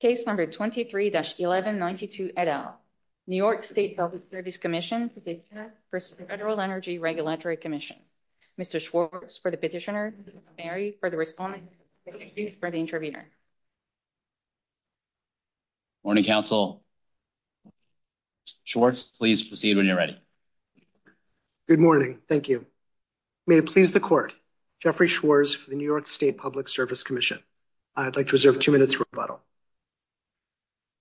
Case number 23-1192 et al. New York State Public Service Commission petition for the Federal Energy Regulatory Commission. Mr. Schwartz for the petitioner, Mr. Berry for the respondent, and Mr. Hughes for the interviewer. Morning, counsel. Schwartz, please proceed when you're ready. Good morning. Thank you. May it please the court. Jeffrey Schwartz for the New York State Public Service Commission. I'd like to reserve two minutes for rebuttal.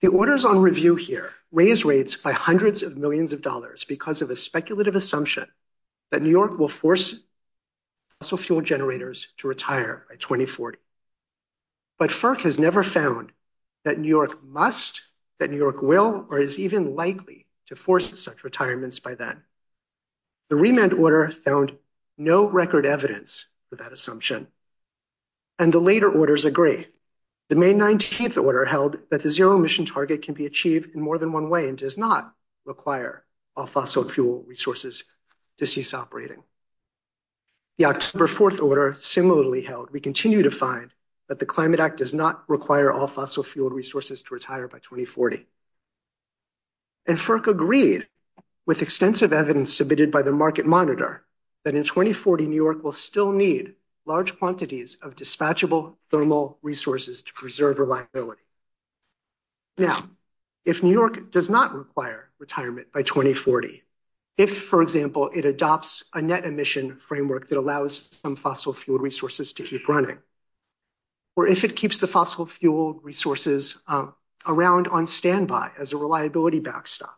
The orders on review here raise rates by hundreds of millions of dollars because of a speculative assumption that New York will force fossil fuel generators to retire by 2040. But FERC has never found that New York must, that New York will, or is even likely to force such retirements by then. The remand order found no record evidence for that assumption. And the later orders agree. The May 19th order held that the zero emission target can be achieved in more than one way and does not require all fossil fuel resources to cease operating. The October 4th order similarly held, we continue to find that the Climate Act does not require all fossil fuel resources to retire by 2040. And FERC agreed with extensive evidence submitted by the Market Monitor that in 2040, New York will still need large quantities of dispatchable thermal resources to preserve reliability. Now, if New York does not require retirement by 2040, if, for example, it adopts a net emission framework that allows some fossil fuel resources to keep running, or if it keeps the fossil fuel resources around on standby as a reliability backstop,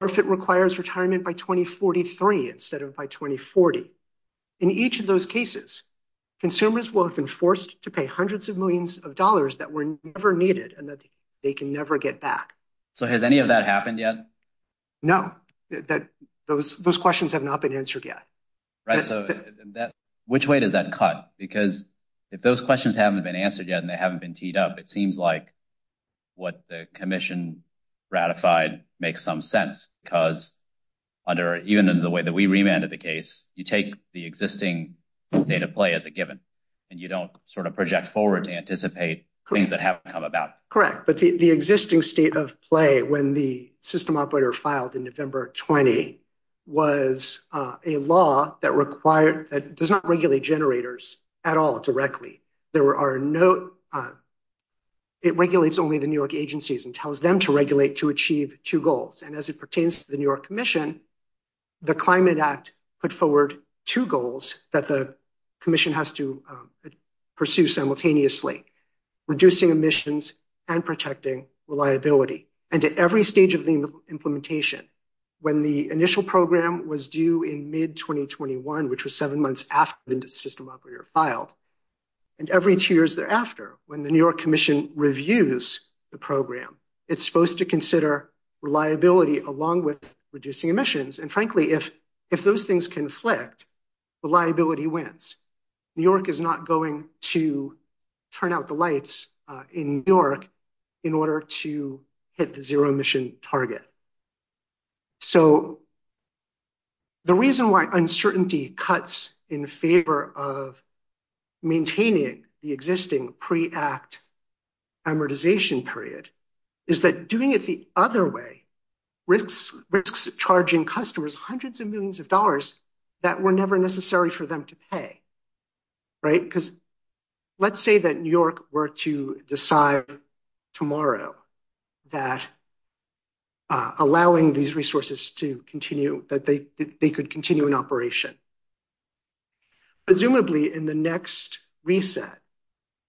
or if it requires retirement by 2043 instead of by 2040, in each of those cases, consumers will have been forced to pay hundreds of millions of dollars that were never needed and that they can never get back. So has any of that happened yet? No, those questions have not been answered yet. Right, so which way does that cut? Because if those questions haven't been answered yet and they haven't been teed up, it seems like what the Commission ratified makes some sense because even in the way that we remanded the case, you take the existing state of play as a given and you don't sort of project forward to anticipate things that haven't come about. Correct. The existing state of play, when the system operator filed in November 20, was a law that does not regulate generators at all directly. It regulates only the New York agencies and tells them to regulate to achieve two goals. And as it pertains to the New York Commission, the Climate Act put forward two goals that the Commission has to pursue simultaneously, reducing emissions and protecting reliability. And at every stage of the implementation, when the initial program was due in mid-2021, which was seven months after the system operator filed, and every two years thereafter, when the New York Commission reviews the program, it's supposed to consider reliability along with reducing emissions. And frankly, if those things conflict, reliability wins. New York is not going to turn out the lights in New York in order to hit the zero emission target. So the reason why uncertainty cuts in favor of maintaining the existing pre-act amortization period is that doing it the other way risks charging customers hundreds of millions of dollars that were never necessary for them to pay. Right? Because let's say that New York were to decide tomorrow that allowing these resources to continue, that they could continue in operation. Presumably in the next reset,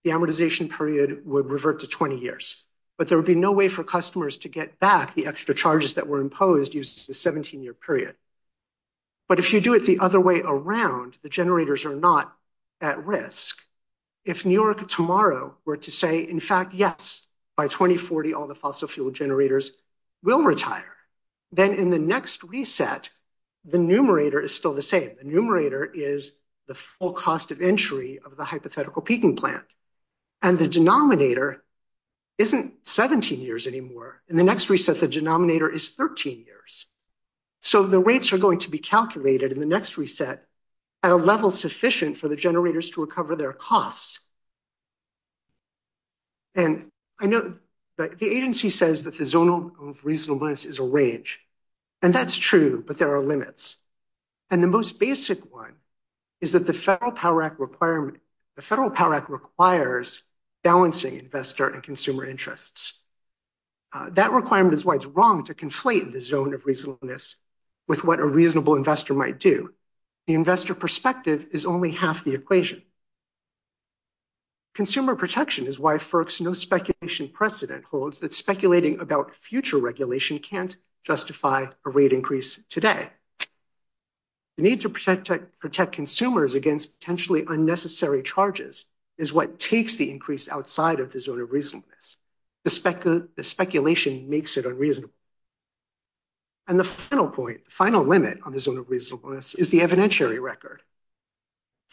the amortization period would revert to 20 years, but there would be no way for customers to get back the extra charges that were imposed the 17-year period. But if you do it the other way around, the generators are not at risk. If New York tomorrow were to say, in fact, yes, by 2040, all the fossil fuel generators will retire, then in the next reset, the numerator is still the same. The numerator is the full cost of entry of the hypothetical peaking plant. And the denominator isn't 17 years anymore. In the next reset, the denominator is 13 years. So the rates are going to be calculated in the next reset at a level sufficient for the generators to recover their costs. And I know the agency says that the zone of reasonableness is a range. And that's true, but there are limits. And the most basic one is that the Federal Power Act requirement, the Federal Power Act requires balancing investor and consumer interests. That requirement is why it's wrong to conflate the zone of reasonableness with what a reasonable investor might do. The investor perspective is only half the equation. Consumer protection is why FERC's no speculation precedent holds that speculating about future regulation can't justify a rate increase today. The need to protect consumers against potentially unnecessary charges is what takes the increase outside of the zone of reasonableness. The speculation makes it unreasonable. And the final point, the final limit on the zone of reasonableness is the evidentiary record.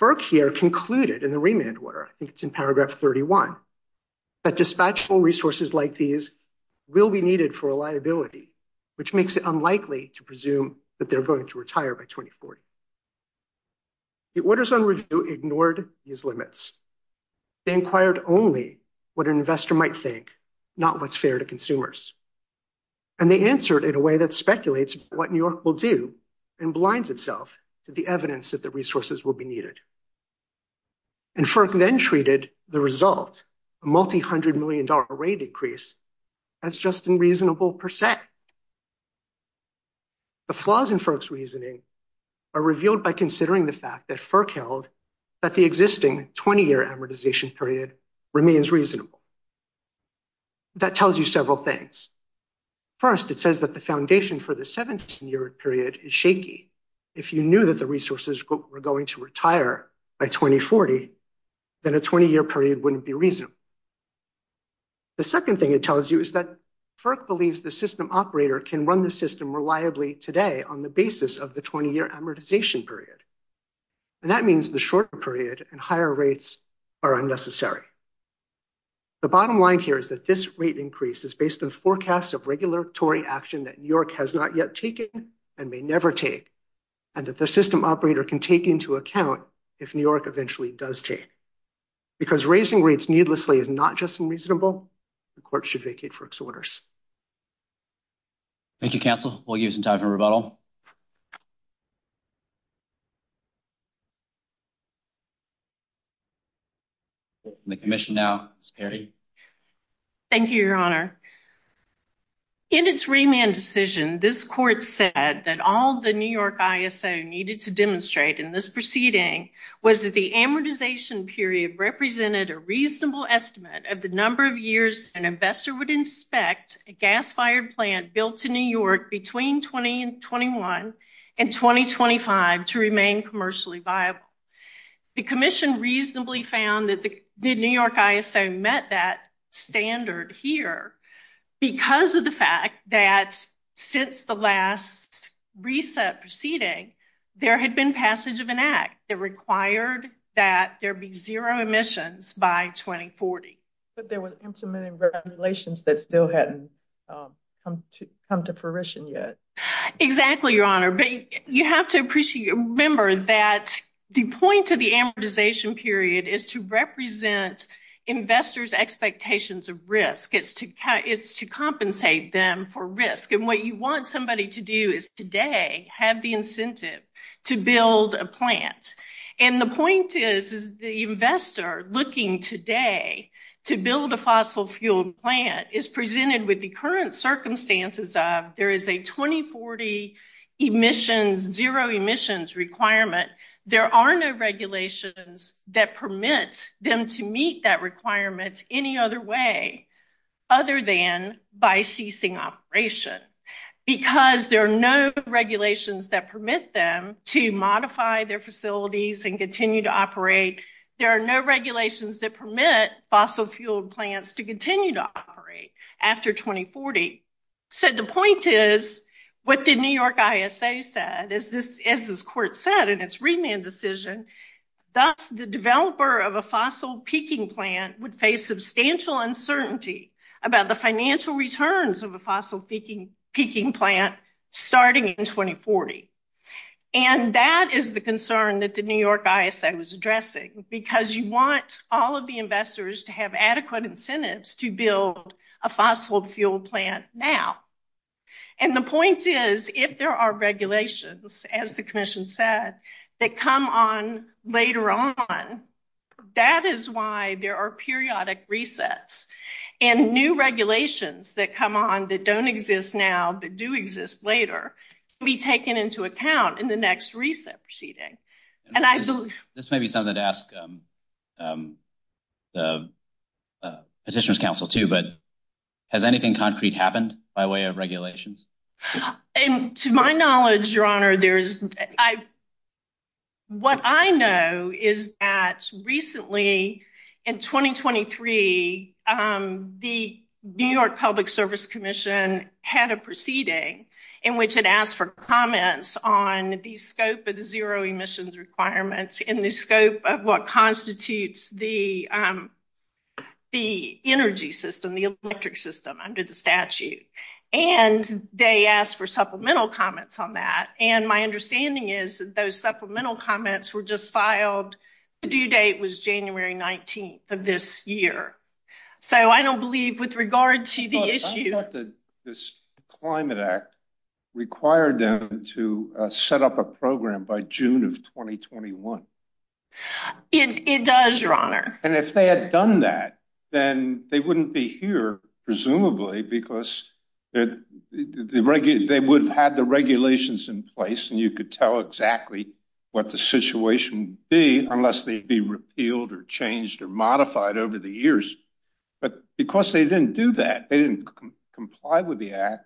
FERC here concluded in the remand order, I think it's in paragraph 31, that dispatchable resources like these will be needed for reliability, which makes it unlikely to presume that they're going to retire by 2040. The orders on review ignored these limits. They inquired only what an investor might think, not what's fair to consumers. And they answered in a way that speculates what New York will do and blinds itself to the evidence that the resources will be needed. And FERC then treated the result, a multi-hundred million dollar rate increase, as just unreasonable per se. The flaws in FERC's reasoning are revealed by considering the fact that FERC held that the existing 20-year amortization period remains reasonable. That tells you several things. First, it says that the foundation for the 17-year period is shaky. If you knew that the resources were going to retire by 2040, then a 20-year period wouldn't be reasonable. The second thing it tells you is that FERC believes the system operator can run the system reliably today on the basis of the 20-year amortization period. And that means the shorter period and higher rates are unnecessary. The bottom line here is that this rate increase is based on forecasts of regulatory action that New York has not yet taken and may never take, and that the system operator can take into account if New York eventually does take. Because raising rates needlessly is not just unreasonable, the court should vacate FERC's orders. Thank you, counsel. We'll give some time for rebuttal. The commission now is paired. Thank you, your honor. In its remand decision, this court said that all the New York ISO needed to demonstrate in this proceeding was that the amortization period represented a reasonable estimate of the number of years an investor would inspect a gas-fired plant built in New York between 2021 and 2025 to remain commercially viable. The commission reasonably found that the New York ISO met that standard here because of the fact that since the last reset proceeding, there had been passage of an act. It required that there be zero emissions by 2040. But there were implemented regulations that still hadn't come to fruition yet. Exactly, your honor. But you have to remember that the point of the amortization period is to represent investors' expectations of risk. It's to compensate them for risk. And what you want somebody to do is today have the incentive to build a plant. And the point is, is the investor looking today to build a fossil-fueled plant is presented with the current circumstances of there is a 2040 emissions, zero emissions requirement. There are no regulations that permit them to meet that requirement any other way other than by ceasing operation. Because there are no regulations that permit them to modify their facilities and continue to operate, there are no regulations that permit fossil-fueled plants to continue to operate after 2040. So the point is, what the New York ISO said, as this court said in its remand decision, thus the developer of a fossil peaking plant would face substantial uncertainty about the financial returns of a fossil peaking plant starting in 2040. And that is the concern that the New York ISO was addressing because you want all of the investors to have adequate incentives to build a fossil-fueled plant now. And the point is, if there are regulations, as the commission said, that come on later on, that is why there are periodic resets. And new regulations that come on that don't exist now, but do exist later, can be taken into account in the next reset proceeding. And I believe... This may be something to ask the Petitioners' Council too, but has anything concrete happened by way of regulations? And to my knowledge, Your Honor, there's... What I know is that recently, in 2023, the New York Public Service Commission had a proceeding in which it asked for comments on the scope of the zero emissions requirements in the scope of what constitutes the energy system, the electric system under the statute. And they asked for supplemental comments on that. And my understanding is that those supplemental comments were just filed... The due date was January 19th of this year. So I don't believe with regard to the issue... I thought that this Climate Act required them to set up a program by June of 2021. It does, Your Honor. And if they had done that, then they wouldn't be here, presumably, because they would have had the regulations in place and you could tell exactly what the situation would be unless they'd be repealed or changed or modified over the years. But because they didn't do that, they didn't get the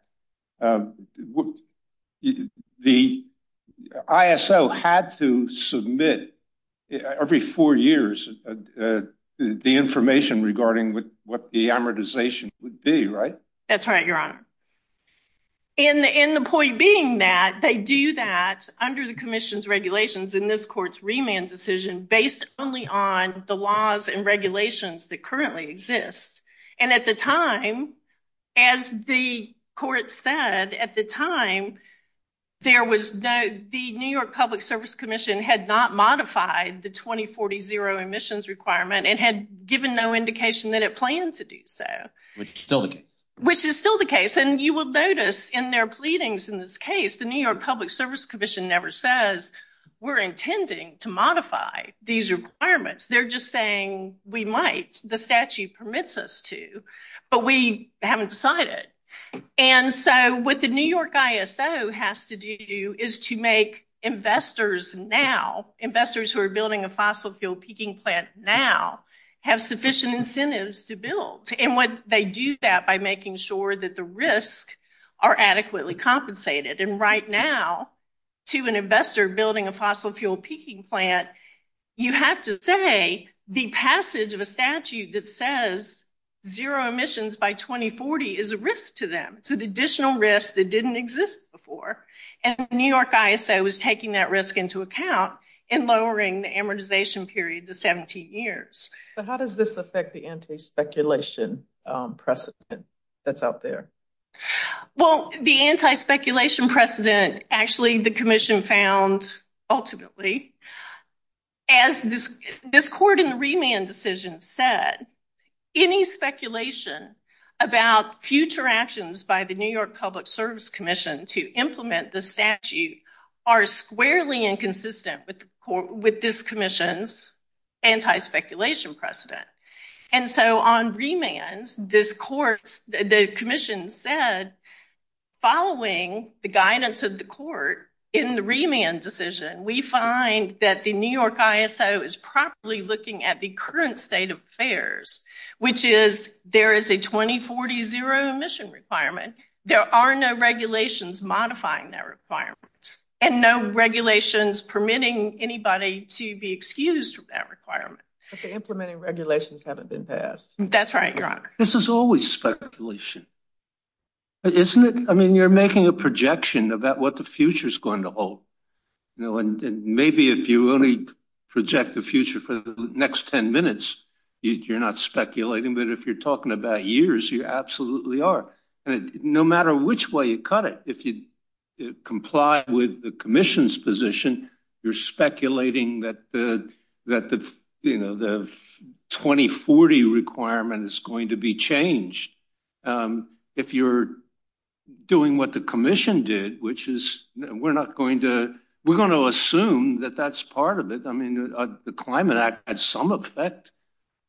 information regarding what the amortization would be, right? That's right, Your Honor. And the point being that they do that under the commission's regulations in this court's remand decision based only on the laws and regulations that currently exist. And at the time, as the court said, at the time, there was no... The New York Public Service Commission had not modified the 2040 zero emissions requirement and had given no indication that it planned to do so. Which is still the case. Which is still the case. And you will notice in their pleadings in this case, the New York Public Service Commission never says, we're intending to modify these requirements. They're just saying, we might. The statute permits us to, but we haven't decided. And so what the New York ISO has to do is to make investors now, investors who are building a fossil fuel peaking plant now, have sufficient incentives to build. And what they do that by making sure that the risks are adequately compensated. And right now, to an investor building a fossil fuel peaking plant, you have to say the passage of a statute that says zero emissions by 2040 is a risk to them. It's an additional risk that didn't exist before. And the New York ISO was taking that risk into account and lowering the amortization period to 17 years. But how does this affect the anti-speculation precedent that's out there? Well, the anti-speculation precedent, actually the commission found ultimately, as this court in the remand decision said, any speculation about future actions by the New York Public Service Commission to implement the statute are squarely inconsistent with this commission's anti-speculation precedent. And so on remands, the commission said, following the guidance of the that the New York ISO is properly looking at the current state of affairs, which is, there is a 2040 zero emission requirement. There are no regulations modifying that requirement and no regulations permitting anybody to be excused from that requirement. But the implementing regulations haven't been passed. That's right, your honor. This is always speculation, isn't it? I mean, you're making a projection about what the future is going to hold. And maybe if you only project the future for the next 10 minutes, you're not speculating. But if you're talking about years, you absolutely are. And no matter which way you cut it, if you comply with the commission's position, you're speculating that the 2040 requirement is going to be changed. And if you're doing what the commission did, which is we're not going to, we're going to assume that that's part of it. I mean, the Climate Act had some effect.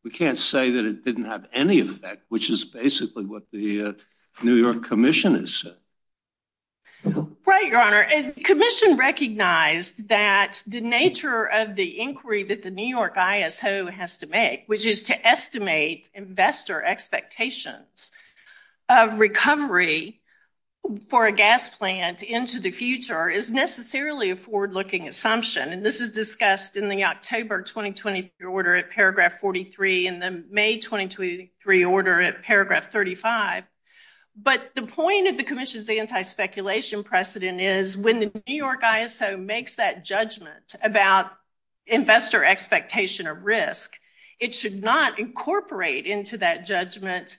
We can't say that it didn't have any effect, which is basically what the New York commission has said. Right, your honor. And the commission recognized that the nature of the inquiry that the New York has to make, which is to estimate investor expectations of recovery for a gas plant into the future is necessarily a forward-looking assumption. And this is discussed in the October 2020 order at paragraph 43 and the May 2023 order at paragraph 35. But the point of the commission's anti-speculation precedent is when the New York ISO makes that judgment about investor expectation of risk, it should not incorporate into that judgment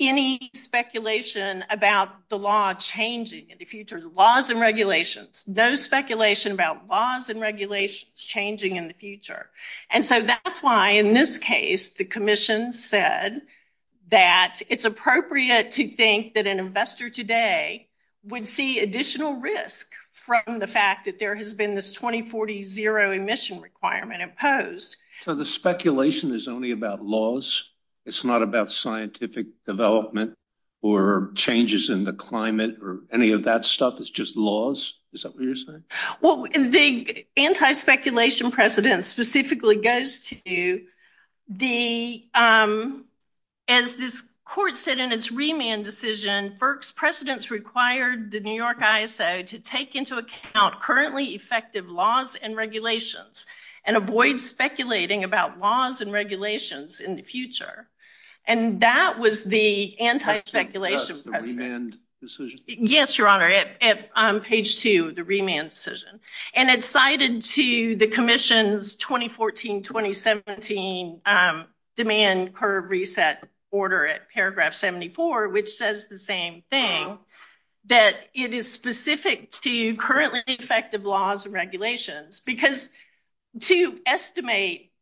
any speculation about the law changing in the future, the laws and regulations, no speculation about laws and regulations changing in the future. And so that's why in this case, the commission said that it's appropriate to think that an zero emission requirement imposed. So the speculation is only about laws. It's not about scientific development or changes in the climate or any of that stuff. It's just laws. Is that what you're saying? Well, the anti-speculation precedent specifically goes to the, as this court said in its remand decision, FERC's precedents required the New York ISO to take into account currently effective laws and regulations and avoid speculating about laws and regulations in the future. And that was the anti-speculation precedent. Yes, Your Honor, at page two of the remand decision. And it's cited to the commission's 2014-2017 demand curve reset order at paragraph 74, which says the same thing, that it is specific to currently effective laws and regulations. Because to estimate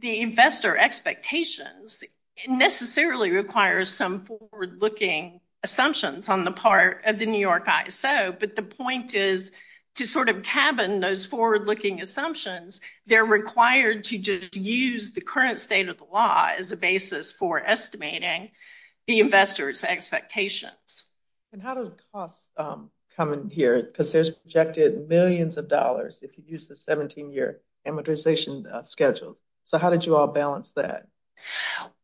the investor expectations necessarily requires some forward-looking assumptions on the part of the New York ISO. But the point is to sort of cabin those forward-looking assumptions, they're required to just use the current state of the law as a basis for estimating the investor's expectations. And how does cost come in here? Because there's projected millions of dollars if you use the 17-year amortization schedules. So how did you all balance that?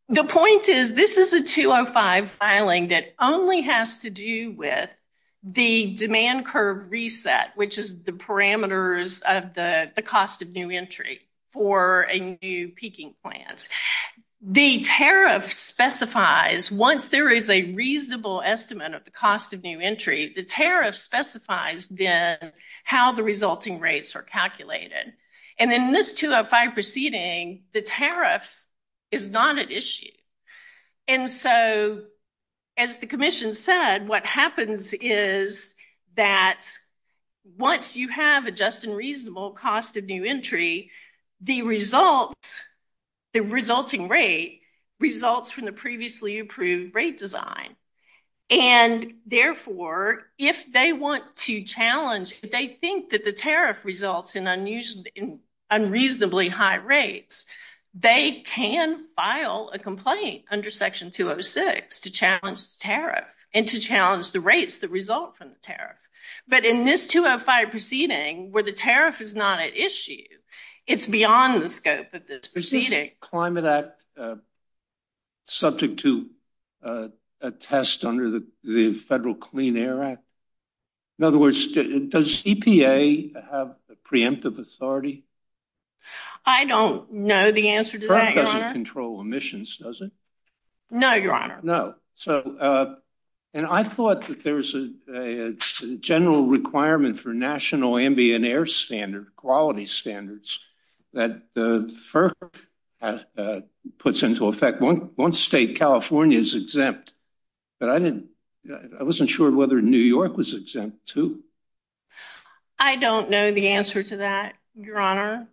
The point is this is a 205 filing that only has to do with the demand curve reset, which is the parameters of the cost of new entry for a new peaking plans. The tariff specifies once there is a reasonable estimate of the cost of new entry, the tariff specifies then how the resulting rates are calculated. And in this 205 proceeding, the tariff is not an issue. And so as the commission said, what happens is that once you have a just and reasonable cost of new entry, the result, the resulting rate, results from the previously approved rate design. And therefore, if they want to challenge, if they think that the tariff results in unreasonably high rates, they can file a complaint under Section 206 to challenge the tariff and to challenge the rates that result from the tariff. But in this 205 proceeding, where the tariff is not an issue, it's beyond the scope of this proceeding. Is the Climate Act subject to a test under the FERC? The FERC doesn't control emissions, does it? No, Your Honor. No. So, and I thought that there's a general requirement for national ambient air standard, quality standards, that the FERC puts into effect once state California is exempt. But I didn't, I wasn't sure whether New York was exempt too. I don't know the answer to that, Your Honor.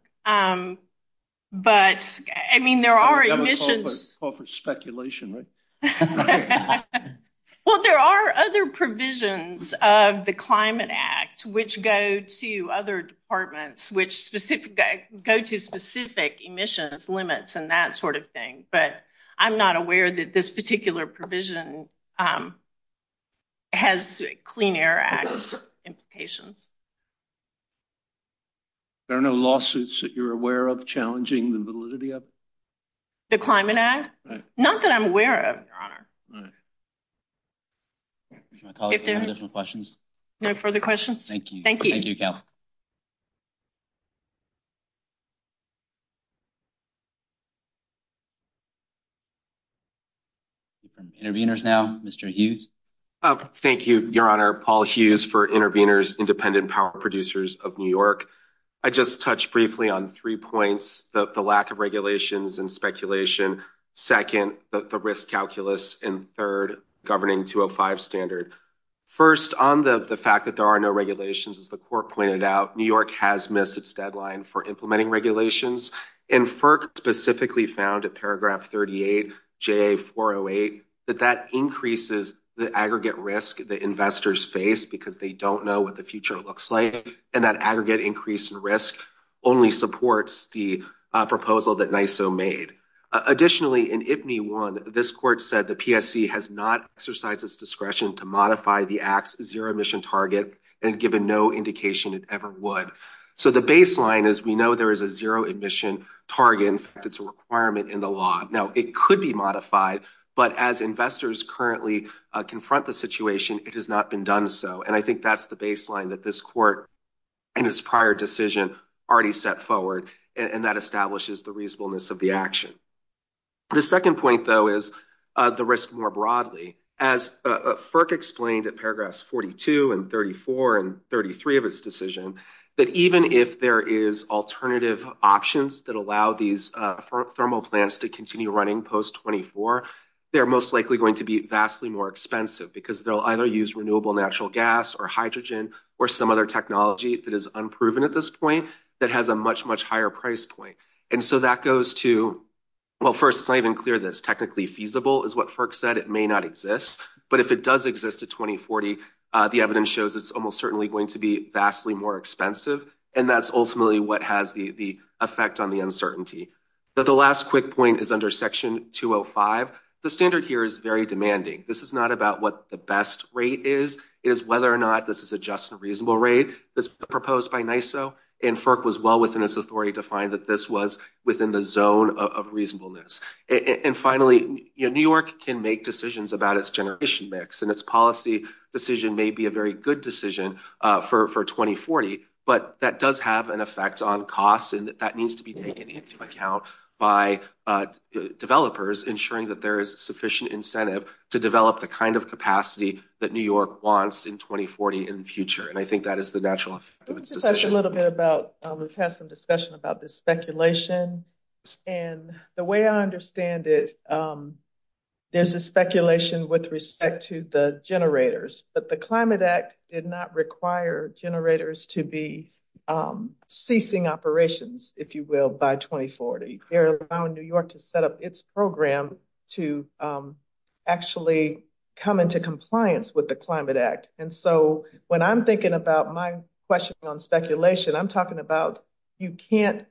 But, I mean, there are emissions. Call for speculation, right? Well, there are other provisions of the Climate Act, which go to other departments, which go to specific emissions limits and that sort of thing. But I'm not aware that this particular you're aware of challenging the validity of? The Climate Act? Not that I'm aware of, Your Honor. Any additional questions? No further questions. Thank you. Thank you. Thank you, counsel. Interveners now, Mr. Hughes. Thank you, Your Honor. Paul Hughes for Interveners, Independent Power Producers of New York. I just touched briefly on three points, the lack of regulations and speculation. Second, the risk calculus. And third, governing 205 standard. First, on the fact that there are no regulations, as the court pointed out, New York has missed its deadline for implementing regulations. And FERC specifically found at paragraph 38, JA408, that that increases the aggregate risk that investors face because they don't know what the future looks like. And that aggregate increase in risk only supports the proposal that NYISO made. Additionally, in IPNY1, this court said the PSC has not exercised its discretion to modify the act's zero emission target and given no indication it ever would. So the baseline is we know there is a zero emission target. In fact, it's a requirement in the law. Now, it could be modified. But as investors currently confront the situation, it has not been done so. And I think that's the baseline that this court and its prior decision already set forward. And that establishes the reasonableness of the action. The second point, though, is the risk more broadly. As FERC explained at paragraphs 42 and 34 and 33 of its decision, that even if there is alternative options that allow these thermal plants to continue running post 24, they're most likely going to be vastly more expensive because they'll either use renewable natural gas or hydrogen or some other technology that is unproven at this point that has a much, much higher price point. And so that goes to, well, first, it's not even clear that it's technically feasible is what FERC said. It may not exist. But if it does exist at 2040, the evidence shows it's almost certainly going to be vastly more expensive. And that's ultimately what has the effect on the uncertainty. But the last quick point is under section 205. The standard here is very demanding. This is not about what the best rate is. It is whether or not this is a just and reasonable rate that's proposed by NYISO. And FERC was well within its authority to find that this was within the zone of reasonableness. And finally, New York can make decisions about its generation mix. And its policy decision may be a very good decision for 2040, but that does have an effect on costs. And that needs to be taken into account by developers ensuring that there is sufficient incentive to develop the kind of capacity that New York wants in 2040 in the future. And I think that is the natural effect of its decision. Let's discuss a little bit about, we've had some discussion about this speculation. And the way I understand it, there's a speculation with respect to the generators, but the Climate Act did not require generators to be ceasing operations, if you will, by 2040. They're allowing New York to set up its program to actually come into compliance with the Climate Act. And so when I'm thinking about my question on speculation, I'm talking about, you can't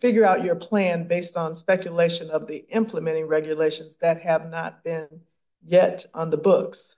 figure out your plan based on speculation of the implementing regulations that have not been yet on the books.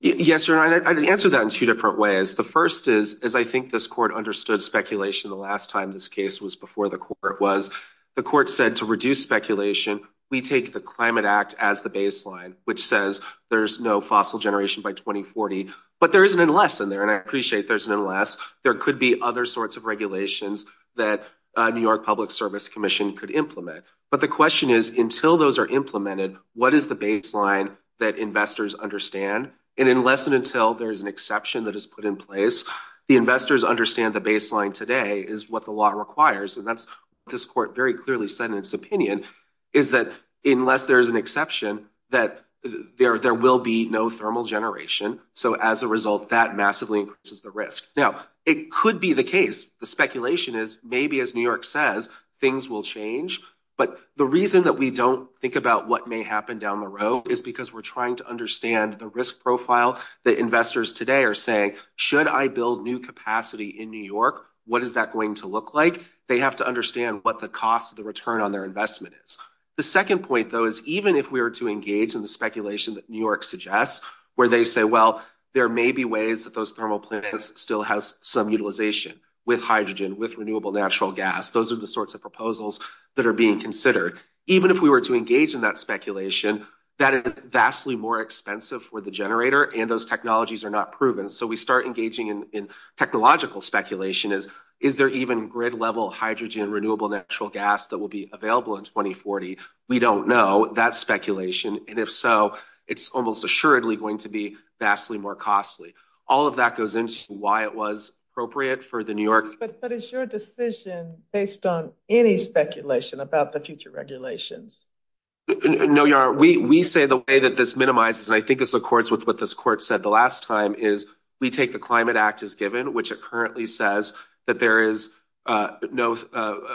Yes, Your Honor, I'd answer that in two different ways. The first is, as I think this Court understood speculation the last time this case was before the Court was, the Court said to reduce speculation, we take the Climate Act as the baseline, which says there's no fossil generation by 2040. But there is an unless in there, and I appreciate there's an unless. There could be other sorts of regulations that New York Public Service Commission could implement. But the question is, until those are implemented, what is the baseline that investors understand? And unless and until there is an exception that is put in place, the investors understand the baseline today is what the law requires. And that's what this Court very clearly said in its opinion, is that unless there is an exception, that there will be no thermal generation. So as a result, that massively increases the risk. Now, it could be the case. The speculation is maybe, as New York says, things will change. But the reason that we don't think about what may happen down the road is because we're trying to understand the risk profile that investors today are saying, should I build new capacity in New York? What is that going to look like? They have to understand what the cost of the return on their investment is. The second point, though, is even if we were to engage in the speculation that New York suggests, where they say, well, there may be ways that those thermal plants still has some utilization with hydrogen, with renewable natural gas, those are the sorts of proposals that are being considered. Even if we were to engage in that speculation, that is vastly more expensive for the generator and those technologies are not proven. So we start engaging in technological speculation is, is there even grid level hydrogen, renewable natural gas that will be available in 2040? We don't know that speculation. And if so, it's almost assuredly going to be vastly more costly. All of that goes into why it was appropriate for the New York. But is your decision based on any speculation about the future regulations? No, we say the way that this minimizes, and I think this accords with what this court said the last time is we take the Climate Act as given, which it currently says that there is no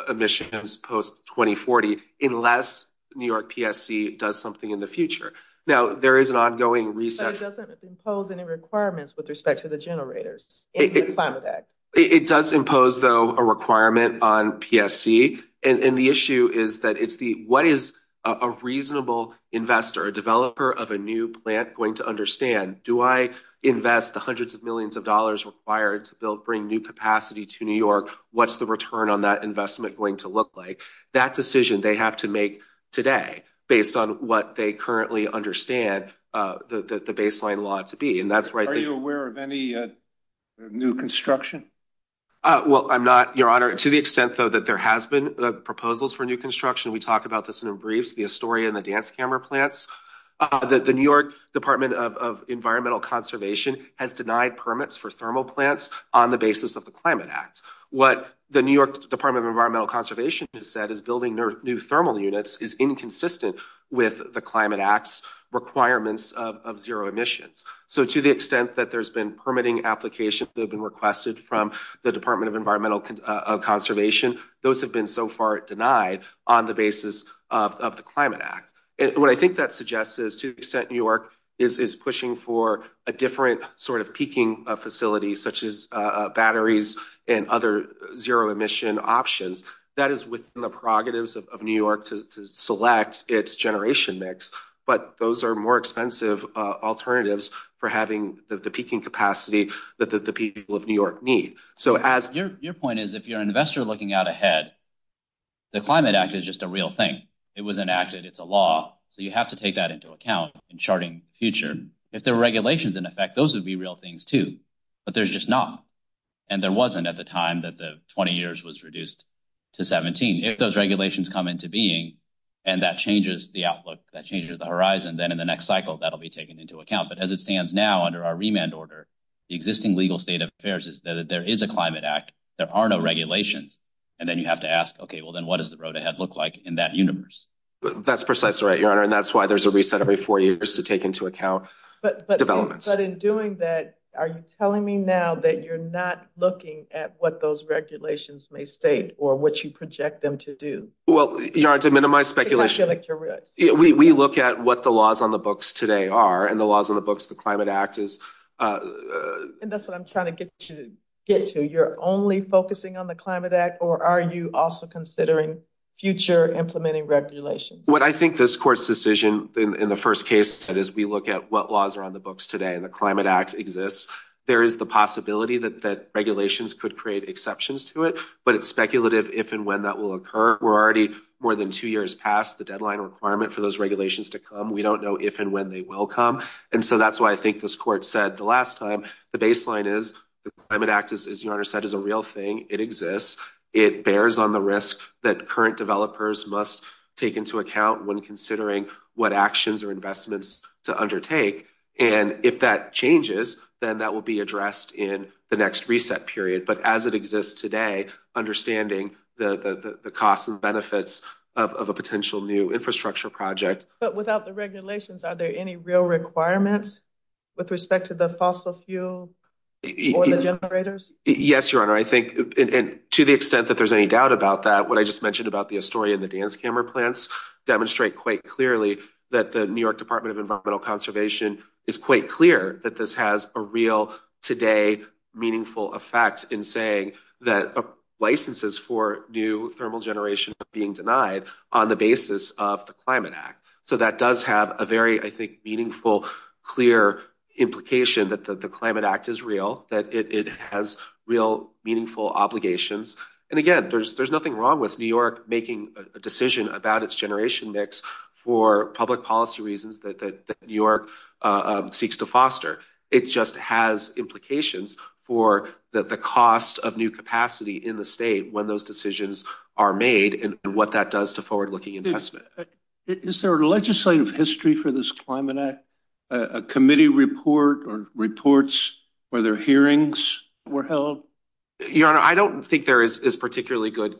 emissions post 2040 unless New York PSC does something in the future. Now, there is an ongoing research. It doesn't impose any requirements with respect to the generators. It does impose, though, a requirement on PSC. And the issue is that it's the what is a reasonable investor, a developer of a new plant going to understand? Do I invest the hundreds of millions of dollars required to build bring new capacity to New York? What's the return on that investment going to look like that decision they have to make today based on what they currently understand the baseline law to be? And that's right. Are you aware of any new construction? Well, I'm not, Your Honor, to the extent, though, that there has been proposals for new construction. We talk about this in briefs, the Astoria and the dance camera plants that the New York Department of Environmental Conservation has denied permits for thermal plants on the basis of the Climate Act. What the New York Department of Environmental Conservation has said is building new thermal units is inconsistent with the Climate Act's requirements of zero emissions. So to the extent that there's been permitting applications that have been requested from the Department of Environmental Conservation, those have been so far denied on the basis of the Climate Act. And what I think that suggests is to the extent New York is pushing for a different sort of peaking facility, such as batteries and other zero emission options, that is within the prerogatives of New York to select its generation mix. But those are more expensive alternatives for having the peaking capacity that the people of New York need. So as your point is, if you're an investor looking out ahead, the Climate Act is just a real thing. It was enacted. It's a law. So you have to take that into account in charting future. If there were regulations in effect, those would be real things, too. But there's just not. And there wasn't at the time that the 20 years was reduced to 17. If those regulations come into being and that changes the outlook, that changes the horizon, then in the next cycle, that'll be taken into account. But as it stands now under our remand order, the existing legal state of affairs is that there is a Climate Act. There are no regulations. And then you have to ask, OK, well, then what does the road ahead look like in that universe? That's precisely right, Your Honor. And that's why there's a reset every four years to take into account developments. But in doing that, are you telling me now that you're not looking at what those regulations may state or what you project them to do? Well, Your Honor, to minimize speculation, we look at what the laws on the books today are and the laws on the books the Climate Act is. And that's what I'm trying to get you to get to. You're only focusing on the Climate Act, or are you also considering future implementing regulations? What I think this court's decision in the first case is we look at what laws are on the books today and the Climate Act exists. There is the possibility that regulations could create exceptions to it, but it's speculative if and when that will occur. We're already more than two years past the deadline requirement for those regulations to come. We don't know if and when they will come. And so that's why I think this court said the last time the baseline is the Climate Act, as Your Honor said, is a real thing. It exists. It bears on the risk that current developers must take into account when considering what actions or investments to undertake. And if that changes, then that will be addressed in the next reset period. But as it exists today, understanding the costs and benefits of a potential new infrastructure project. But without the regulations, are there any real requirements with respect to the fossil fuel or the generators? Yes, Your Honor. I think, to the extent that there's any doubt about that, what I just mentioned about the Astoria and the that the New York Department of Environmental Conservation is quite clear that this has a real today meaningful effect in saying that licenses for new thermal generation are being denied on the basis of the Climate Act. So that does have a very, I think, meaningful, clear implication that the Climate Act is real, that it has real meaningful obligations. And again, there's nothing wrong with New York making a decision about its generation mix for public policy reasons that New York seeks to foster. It just has implications for the cost of new capacity in the state when those decisions are made and what that does to forward-looking investment. Is there a legislative history for this Climate Act? A committee report or reports or their hearings were held? Your Honor, I don't think there is particularly good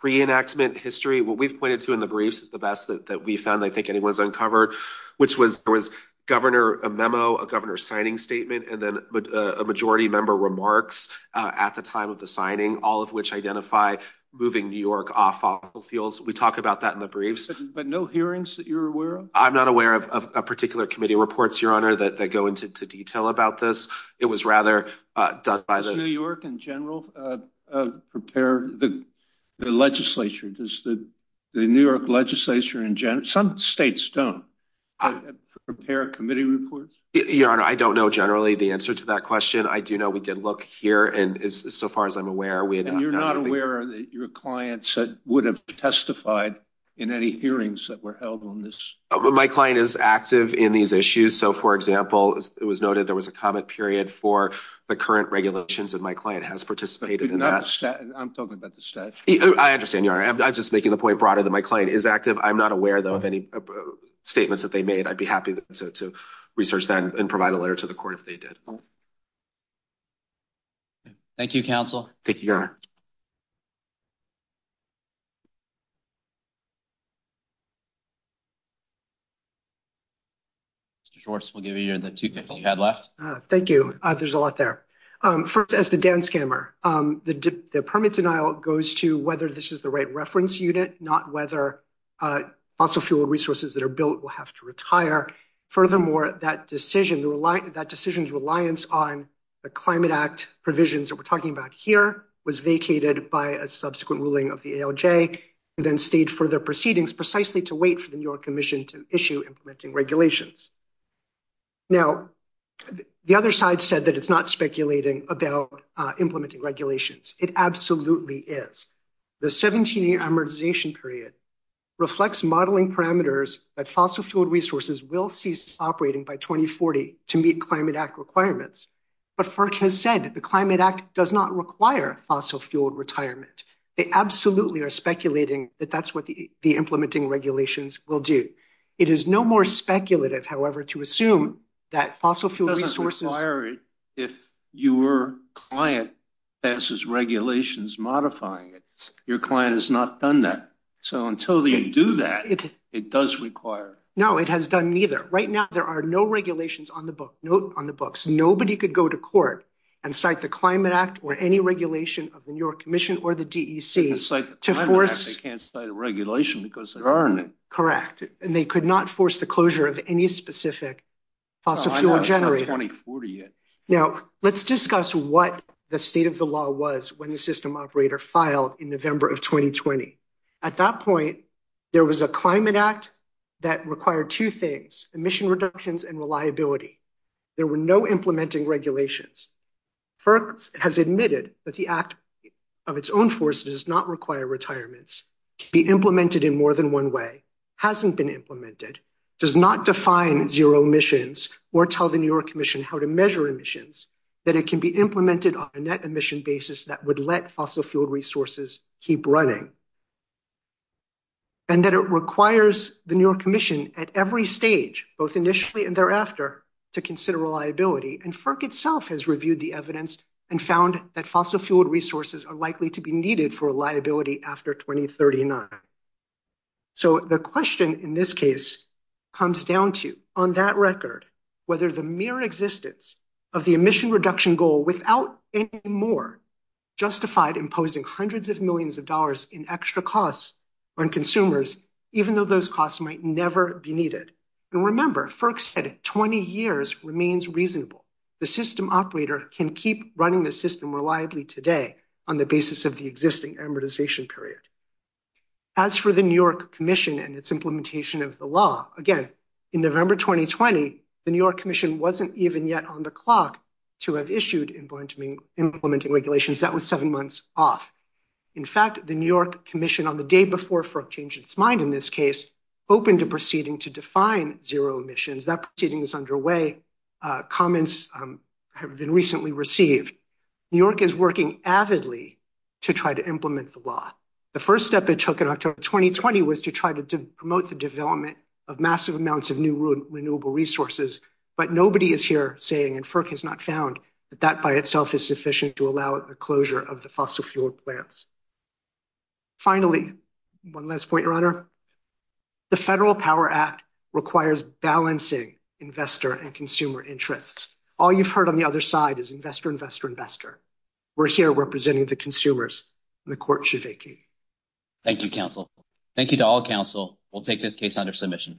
pre-enactment history. What we've pointed to in the briefs is the best that we found, I think anyone's uncovered, which was there was governor, a memo, a governor signing statement, and then a majority member remarks at the time of the signing, all of which identify moving New York off fossil fuels. We talk about that in the briefs. But no hearings that you're aware of? I'm not aware of a particular committee reports, Your Honor, that go into detail about this. It was rather done by the— Does New York in general prepare the legislature? Does the New York legislature in general—some states don't—prepare committee reports? Your Honor, I don't know generally the answer to that question. I do know we did look here, and so far as I'm aware— And you're not aware that your clients would have testified in any hearings that were held on this? My client is active in these issues. So, for example, it was noted there was a comment period for the current regulations, and my client has participated in that. I'm talking about the statute. I understand, Your Honor. I'm just making the point broader that my client is active. I'm not aware, though, of any statements that they made. I'd be happy to research that and provide a letter to the court if they did. Mr. Schwartz, we'll give you the two minutes you had left. Thank you. There's a lot there. First, as to Dan Scammer, the permit denial goes to whether this is the right reference unit, not whether fossil fuel resources that are built will have to retire. Furthermore, that decision's reliance on the Climate Act provisions that we're talking about here was vacated by a subsequent ruling of the ALJ, who then stayed for their proceedings precisely to wait for the New York Commission to issue implementing regulations. Now, the other side said that it's not speculating about implementing regulations. It absolutely is. The 17-year amortization period reflects modeling parameters that fossil fuel resources will cease operating by 2040 to meet Climate Act requirements. But FERC has said the Climate Act does not require fossil-fueled retirement. They absolutely are speculating that that's what the implementing regulations will do. It is no more speculative, however, to assume that fossil fuel resources— It doesn't require it if your client passes regulations modifying it. Your client has not done that. So until you do that, it does require— No, it has done neither. Right now, there are no regulations on the books. Nobody could go to court and cite the Climate Act or any regulation of the New York Commission or the DEC to force— They can't cite a regulation because there aren't any. Correct. And they could not force the closure of any specific fossil-fuel generator. Now, let's discuss what the state of the law was when the system operator filed in November of 2020. At that point, there was a Climate Act that required two things—emission reductions and reliability. There were no implementing regulations. FERC has admitted that the act of its own force does not require retirements to be implemented in more than one way, hasn't been implemented, does not define zero emissions or tell the New York Commission how to measure emissions, that it can be implemented on a net emission basis that would let fossil-fueled resources be used to reduce emissions, and that it requires the New York Commission at every stage, both initially and thereafter, to consider reliability. And FERC itself has reviewed the evidence and found that fossil-fueled resources are likely to be needed for reliability after 2039. So the question in this case comes down to, on that record, whether the mere existence of the emission reduction goal without any more justified imposing hundreds of millions of dollars in extra costs on consumers, even though those costs might never be needed. And remember, FERC said 20 years remains reasonable. The system operator can keep running the system reliably today on the basis of the existing amortization period. As for the New York Commission and its implementation of the law, again, in November 2020, the New York Commission wasn't even yet on the clock to have issued implementing regulations. That was seven months off. In fact, the New York Commission, on the day before FERC changed its mind in this case, opened a proceeding to define zero emissions. That proceeding is underway. Comments have been recently received. New York is working avidly to try to implement the law. The first step it took in October 2020 was to try to promote the development of massive amounts of new renewable resources. But nobody is here saying, and FERC has not found, that that by itself is sufficient to achieve that goal. Finally, one last point, Your Honor. The Federal Power Act requires balancing investor and consumer interests. All you've heard on the other side is investor, investor, investor. We're here representing the consumers and the court should vacate. Thank you, counsel. Thank you to all counsel. We'll take this case under submission.